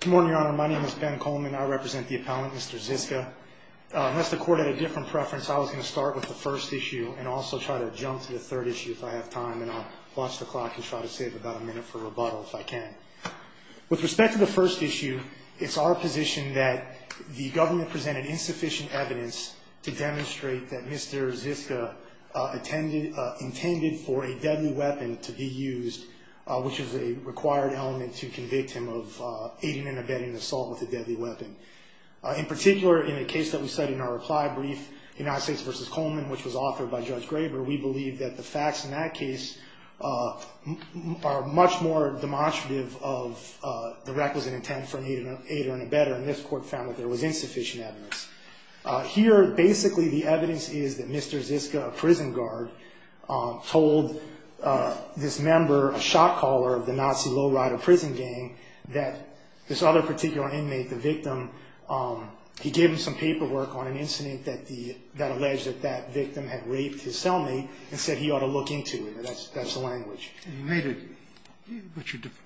Good morning, your honor. My name is Ben Coleman. I represent the appellant, Mr. Ziska. Unless the court had a different preference, I was going to start with the first issue and also try to jump to the third issue if I have time, and I'll watch the clock and try to save about a minute for rebuttal if I can. With respect to the first issue, it's our position that the government presented insufficient evidence to demonstrate that Mr. Ziska intended for a deadly weapon to be used, which is a required element to convict him of aiding and abetting assault with a deadly weapon. In particular, in a case that we cited in our reply brief, United States v. Coleman, which was authored by Judge Graber, we believe that the facts in that case are much more demonstrative of the requisite intent for an aider and abetter, and this court found that there was insufficient evidence. Here, basically, the evidence is that Mr. Ziska, a prison guard, told this member, a shot caller of the Nazi low-rider prison gang, that this other particular inmate, the victim, he gave him some paperwork on an incident that alleged that that victim had raped his cellmate and said he ought to look into it. That's the language.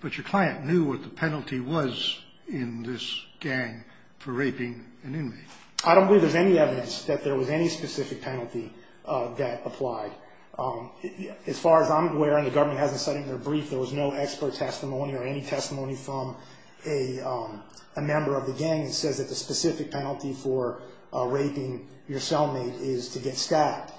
But your client knew what the penalty was in this gang for raping an inmate. I don't believe there's any evidence that there was any specific penalty that applied. As far as I'm aware, and the government hasn't cited in their brief, there was no expert testimony or any testimony from a member of the gang that says that the specific penalty for raping your cellmate is to get stabbed.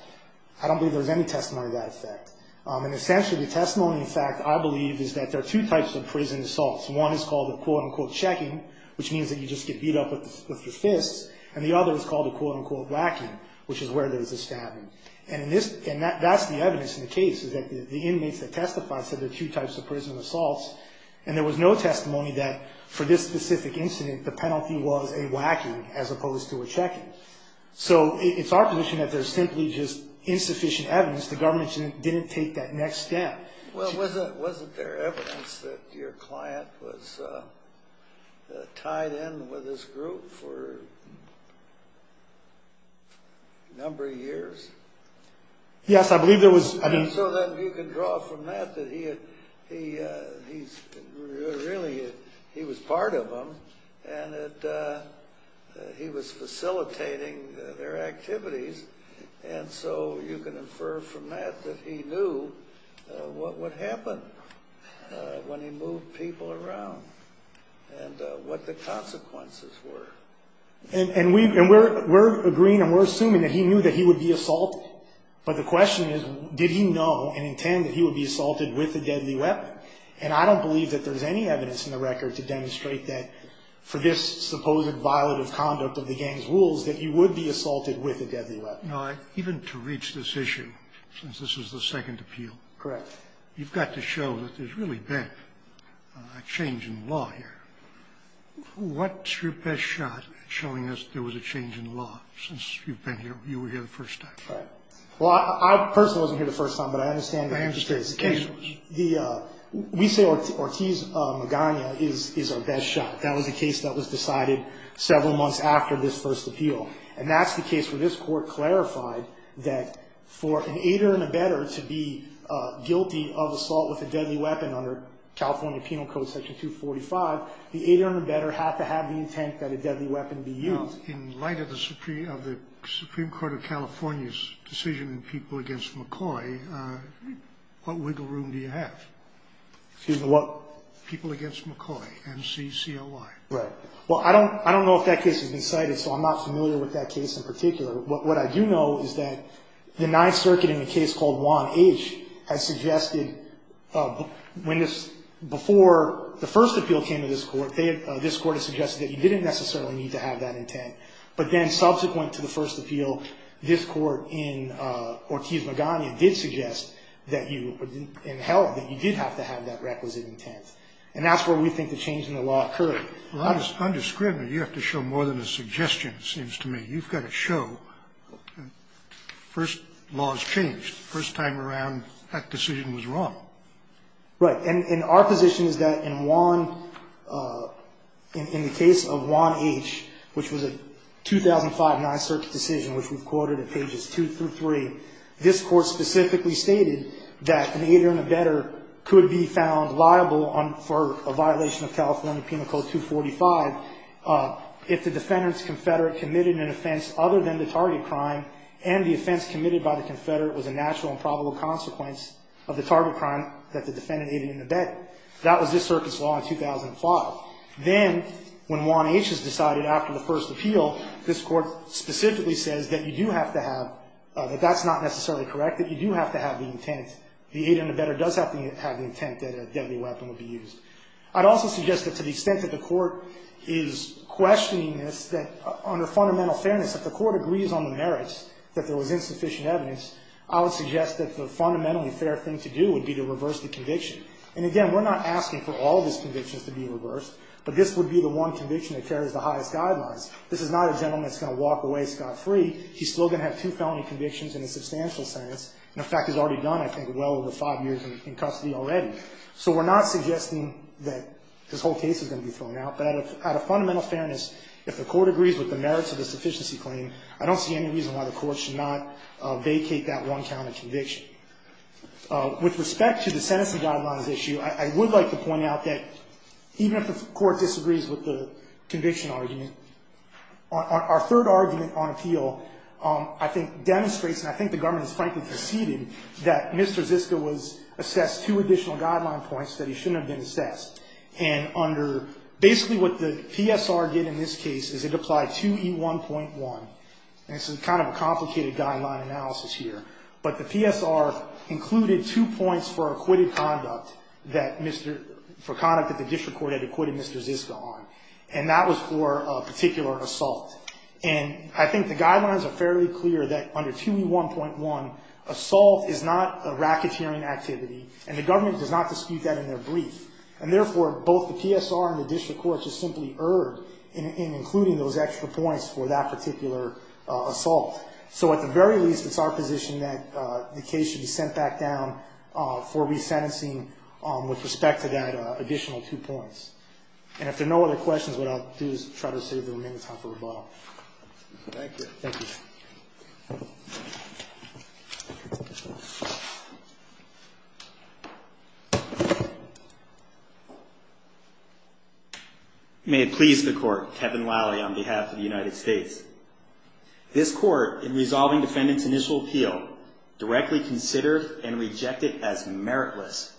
I don't believe there was any testimony to that effect. And essentially, the testimony, in fact, I believe is that there are two types of prison assaults. One is called a, quote-unquote, checking, which means that you just get beat up with your fists, and the other is called a, quote-unquote, whacking, which is where there's a stabbing. And that's the evidence in the case, is that the inmates that testified said there are two types of prison assaults, and there was no testimony that for this specific incident, the penalty was a whacking as opposed to a checking. So it's our position that there's simply just insufficient evidence. The government didn't take that next step. Well, wasn't there evidence that your client was tied in with this group for a number of years? Yes, I believe there was. So then you can draw from that that he was part of them and that he was facilitating their activities, and so you can infer from that that he knew what would happen when he moved people around and what the consequences were. And we're agreeing and we're assuming that he knew that he would be assaulted, but the question is, did he know and intend that he would be assaulted with a deadly weapon? And I don't believe that there's any evidence in the record to demonstrate that, for this supposed violative conduct of the gang's rules, that he would be assaulted with a deadly weapon. Now, even to reach this issue, since this is the second appeal. Correct. You've got to show that there's really been a change in law here. What's your best shot at showing us there was a change in law since you've been here, you were here the first time? Right. Well, I personally wasn't here the first time, but I understand the case. I understand the case. We say Ortiz Magana is our best shot. That was the case that was decided several months after this first appeal, and that's the case where this Court clarified that for an aider and abetter to be guilty of assault with a deadly weapon under California Penal Code Section 245, the aider and abetter have to have the intent that a deadly weapon be used. Now, in light of the Supreme Court of California's decision in People v. McCoy, what wiggle room do you have? Excuse me, what? People v. McCoy, M-C-C-O-Y. Right. Well, I don't know if that case has been cited, so I'm not familiar with that case in particular. What I do know is that the Ninth Circuit in the case called Juan H. has suggested when this ñ before the first appeal came to this Court, this Court has suggested that you didn't necessarily need to have that intent. But then subsequent to the first appeal, this Court in Ortiz Magana did suggest that you ñ and held that you did have to have that requisite intent. And that's where we think the change in the law occurred. Well, I'm just ñ I'm just scrimming. You have to show more than a suggestion, it seems to me. You've got to show ñ first, law has changed. The first time around, that decision was wrong. Right. And our position is that in Juan ñ in the case of Juan H., which was a 2005 Ninth Circuit decision, which we've quoted at pages 2 through 3, this Court specifically stated that an aider and abetter could be found liable for a violation of California crime and the offense committed by the Confederate was a natural and probable consequence of the target crime that the defendant aided and abetted. That was this Circuit's law in 2005. Then when Juan H. is decided after the first appeal, this Court specifically says that you do have to have ñ that that's not necessarily correct, that you do have to have the intent. The aider and abetter does have to have the intent that a deadly weapon would be used. I'd also suggest that to the extent that the Court is questioning this, that under fundamental fairness, if the Court agrees on the merits that there was insufficient evidence, I would suggest that the fundamentally fair thing to do would be to reverse the conviction. And again, we're not asking for all of these convictions to be reversed, but this would be the one conviction that carries the highest guidelines. This is not a gentleman that's going to walk away scot-free. He's still going to have two felony convictions and a substantial sentence. In fact, he's already done, I think, well over five years in custody already. So we're not suggesting that this whole case is going to be thrown out. But out of fundamental fairness, if the Court agrees with the merits of the sufficiency claim, I don't see any reason why the Court should not vacate that one count of conviction. With respect to the sentencing guidelines issue, I would like to point out that even if the Court disagrees with the conviction argument, our third argument on appeal I think demonstrates, and I think the government has frankly conceded, that Mr. Ziska was assessed two additional guideline points that he shouldn't have been assessed. And under, basically what the PSR did in this case is it applied 2E1.1, and this is kind of a complicated guideline analysis here, but the PSR included two points for acquitted conduct that Mr., for conduct that the district court had acquitted Mr. Ziska on, and that was for a particular assault. And I think the guidelines are fairly clear that under 2E1.1, assault is not a racketeering activity, and the government does not dispute that in their brief. And therefore, both the PSR and the district court just simply erred in including those extra points for that particular assault. So at the very least, it's our position that the case should be sent back down for resentencing with respect to that additional two points. And if there are no other questions, what I'll do is try to save the remaining time for rebuttal. May it please the court. Kevin Lally on behalf of the United States. This court, in resolving defendant's initial appeal, directly considered and rejected as meritless.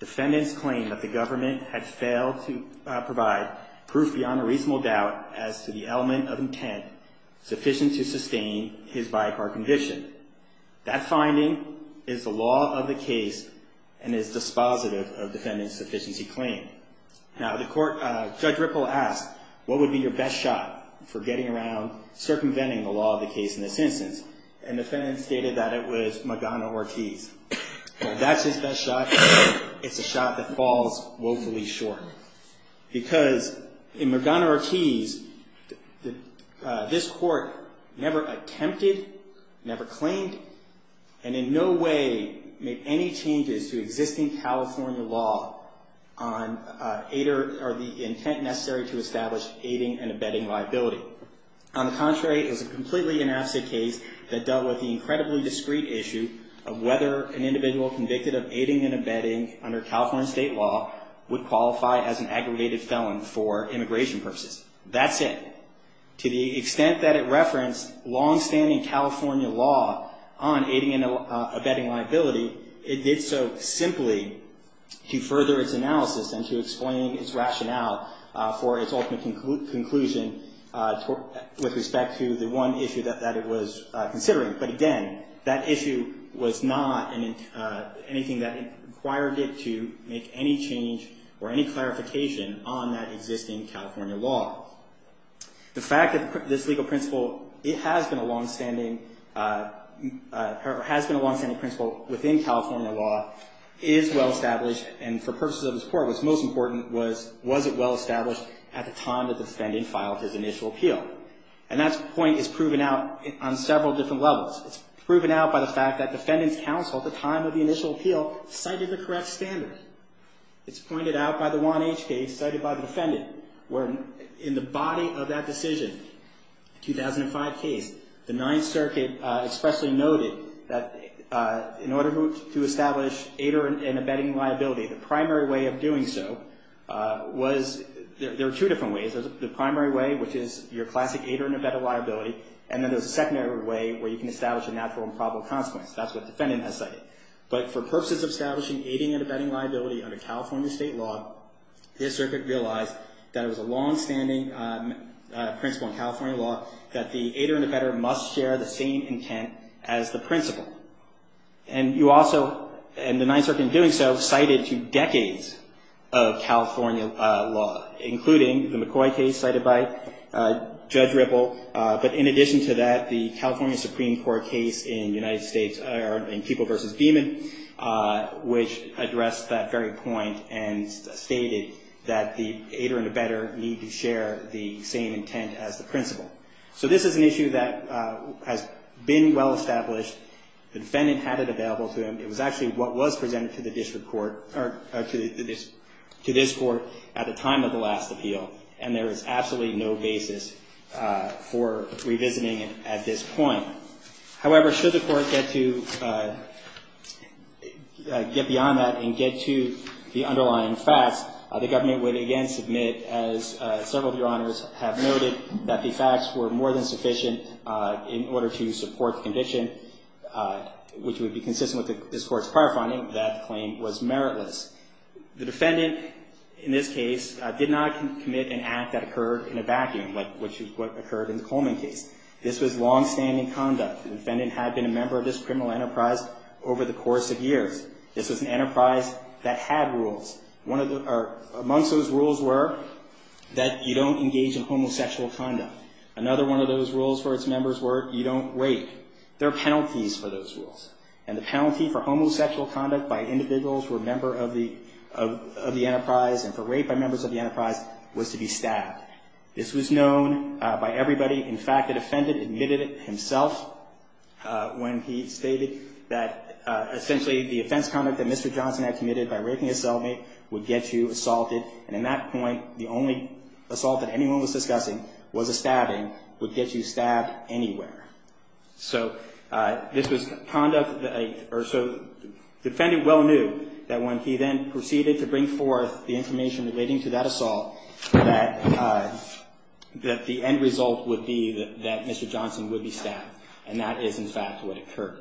Defendant's claim that the government had failed to provide proof beyond a reasonable doubt as to the element of intent sufficient to sustain his by-car conviction. That finding is the law of the case and is dispositive of the evidence he claimed. Now the court, Judge Ripple asked, what would be your best shot for getting around circumventing the law of the case in this instance? And the defendant stated that it was Magana Ortiz. That's his best shot. It's a shot that falls woefully short. Because in Magana Ortiz, this court never attempted, never claimed, and in no way made any changes to existing California law on aid or the intent necessary to establish aiding and abetting liability. On the contrary, it was a completely inabsent case that dealt with the incredibly discreet issue of whether an individual convicted of aiding and abetting under California state law would qualify as an aggregated felon for immigration purposes. That's it. To the extent that it referenced longstanding California law on aiding and abetting liability, it did so simply to further its analysis and to explain its rationale for its ultimate conclusion with respect to the one issue that it was considering. But again, that issue was not anything that required it to make any change or any clarification on that existing California law. The fact that this legal principle, it has been a longstanding, has been a longstanding principle within California law, is well-established. And for purposes of this court, what's most important was, was it well-established at the time that the defendant filed his initial appeal? And that point is proven out on several different levels. It's proven out by the fact that defendant's counsel at the time of the initial appeal cited the correct standard. It's pointed out by the Juan H. case, cited by the defendant, where in the body of that decision, 2005 case, the Ninth Circuit expressly noted that in order to establish aider and abetting liability, the primary way of doing so was, there are two different ways. There's the primary way, which is your classic aider and abet a liability, and then there's a secondary way where you can establish a natural and probable consequence. That's what the defendant has cited. But for purposes of establishing aider and abetting liability under California state law, the Ninth Circuit realized that it was a longstanding principle in California law that the aider and abetter must share the same intent as the principal. And you also, and the Ninth Circuit in doing so, cited two decades of California law, including the McCoy case cited by Judge Ripple. But in addition to that, the California Supreme Court case in United States, or in People v. Demon, which addressed that very point and stated that the aider and abetter need to share the same intent as the principal. So this is an issue that has been well established. The defendant had it available to him. It was actually what was presented to the court in the last appeal, and there is absolutely no basis for revisiting it at this point. However, should the court get to, get beyond that and get to the underlying facts, the government would again submit, as several of your Honors have noted, that the facts were more than sufficient in order to support the condition, which would be consistent with this Court's prior finding, that claim was meritless. The defendant, in this case, did not commit an act that occurred in a vacuum, like what occurred in the Coleman case. This was longstanding conduct. The defendant had been a member of this criminal enterprise over the course of years. This was an enterprise that had rules. Amongst those rules were that you don't engage in homosexual conduct. Another one of those rules for its members of the enterprise and for rape by members of the enterprise was to be stabbed. This was known by everybody. In fact, the defendant admitted it himself when he stated that essentially the offense conduct that Mr. Johnson had committed by raping his cellmate would get you assaulted, and in that point, the only assault that anyone was discussing was a stabbing, would get you stabbed anywhere. So this was conduct that a — or so the defendant well knew that when he then proceeded to bring forth the information relating to that assault, that the end result would be that Mr. Johnson would be stabbed, and that is, in fact, what occurred.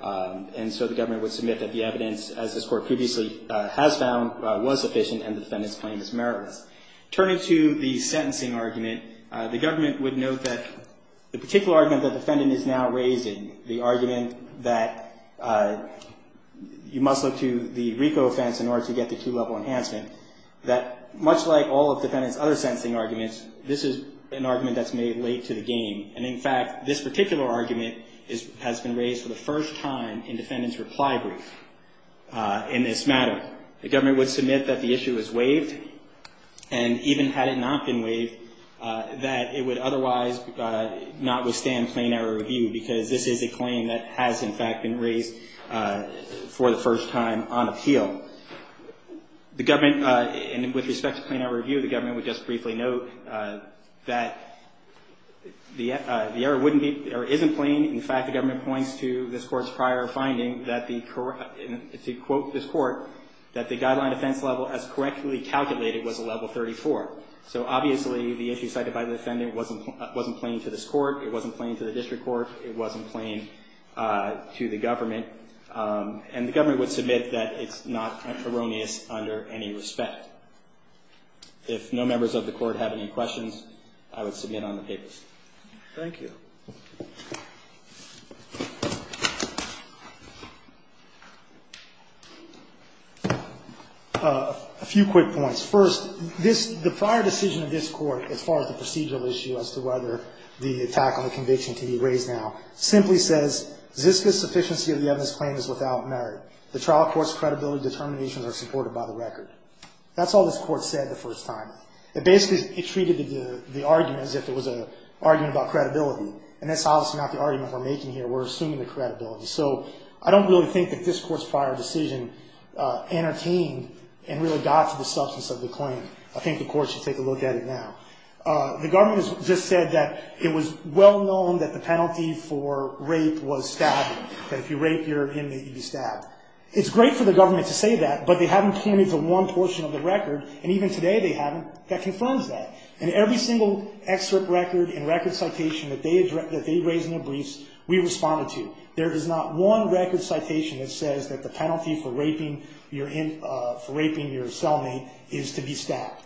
And so the government would submit that the evidence, as this Court previously has found, was sufficient and the defendant's claim is meritless. Turning to the sentencing argument, the government would note that the particular argument that the defendant is now raising, the argument that you must look to the RICO offense in order to get the two-level enhancement, that much like all of the defendant's other sentencing arguments, this is an argument that's made late to the game, and in fact, this particular argument has been raised for the first time in defendant's reply brief in this matter. The government would submit that the issue is waived, and even had it not been waived, that it would otherwise not withstand plain-error review, because this is a claim that has, in fact, been raised for the first time on appeal. The government — and with respect to plain-error review, the government would just briefly note that the error wouldn't be — the issue cited by the defendant wasn't plain to this Court, it wasn't plain to the district court, it wasn't plain to the government, and the government would submit that it's not erroneous under any respect. If no members of the Court have any questions, I would submit on the papers. Thank you. A few quick points. First, this — the prior decision of this Court, as far as the procedural issue as to whether the attack on the conviction can be raised now, simply says, Ziska's sufficiency of the evidence claim is without merit. The trial court's credibility determinations are supported by the record. That's all this Court said the first time. Basically, it treated the argument as if it was an argument about credibility, and that's obviously not the argument we're making here. We're assuming the credibility. So I don't really think that this Court's prior decision entertained and really got to the substance of the claim. I think the Court should take a look at it now. The government has just said that it was well-known that the penalty for rape was to be stabbed, that if you rape your inmate, you'd be stabbed. It's great for the government to say that, but they haven't came into one portion of the record, and even today they haven't. That confirms that. In every single excerpt record and record citation that they raised in their briefs, we responded to. There is not one record citation that says that the penalty for raping your cellmate is to be stabbed.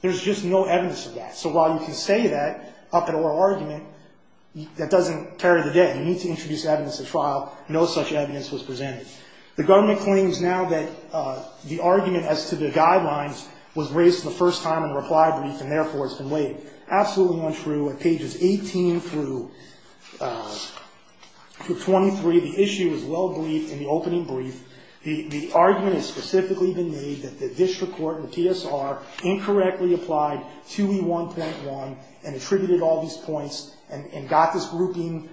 There's just no evidence of that. So while you can say that up at oral argument, that doesn't carry the debt. You need to introduce evidence at trial. No such evidence was presented. The government claims now that the argument as to the guidelines was raised the first time in the reply brief, and therefore it's been weighed. Absolutely untrue. At pages 18 through 23, the issue is well-briefed in the opening brief. The argument has specifically been made that the district court and the PSR incorrectly applied 2E1.1 and attributed all these points and got this grouping,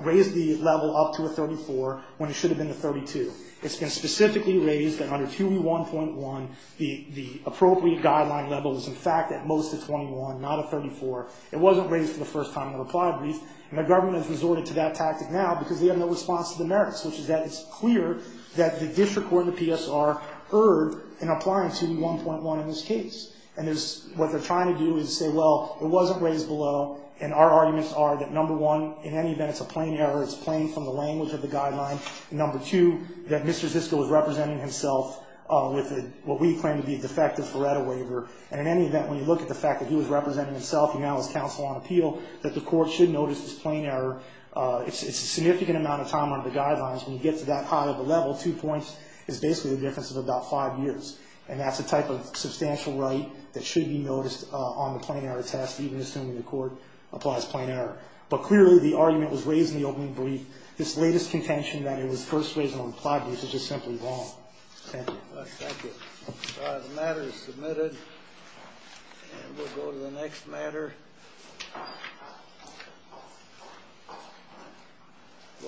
raised the level up to a 34 when it should have been a 32. It's been specifically raised that under 2E1.1, the appropriate guideline level is in fact at most a 21, not a 34. It wasn't raised for the first time in the reply brief, and the government has resorted to that the district court and the PSR heard in applying 2E1.1 in this case. And there's what they're trying to do is say, well, it wasn't raised below, and our arguments are that, number one, in any event, it's a plain error. It's plain from the language of the guideline. Number two, that Mr. Zisco is representing himself with what we claim to be a defective FREDA waiver. And in any event, when you look at the fact that he was not raised in the reply brief, the difference between the two points is basically the difference of about five years. And that's a type of substantial right that should be noticed on the plain error test, even assuming the court applies plain error. But clearly, the argument was raised in the opening brief. This latest contention that it was first raised in the reply brief is just simply wrong. Thank you.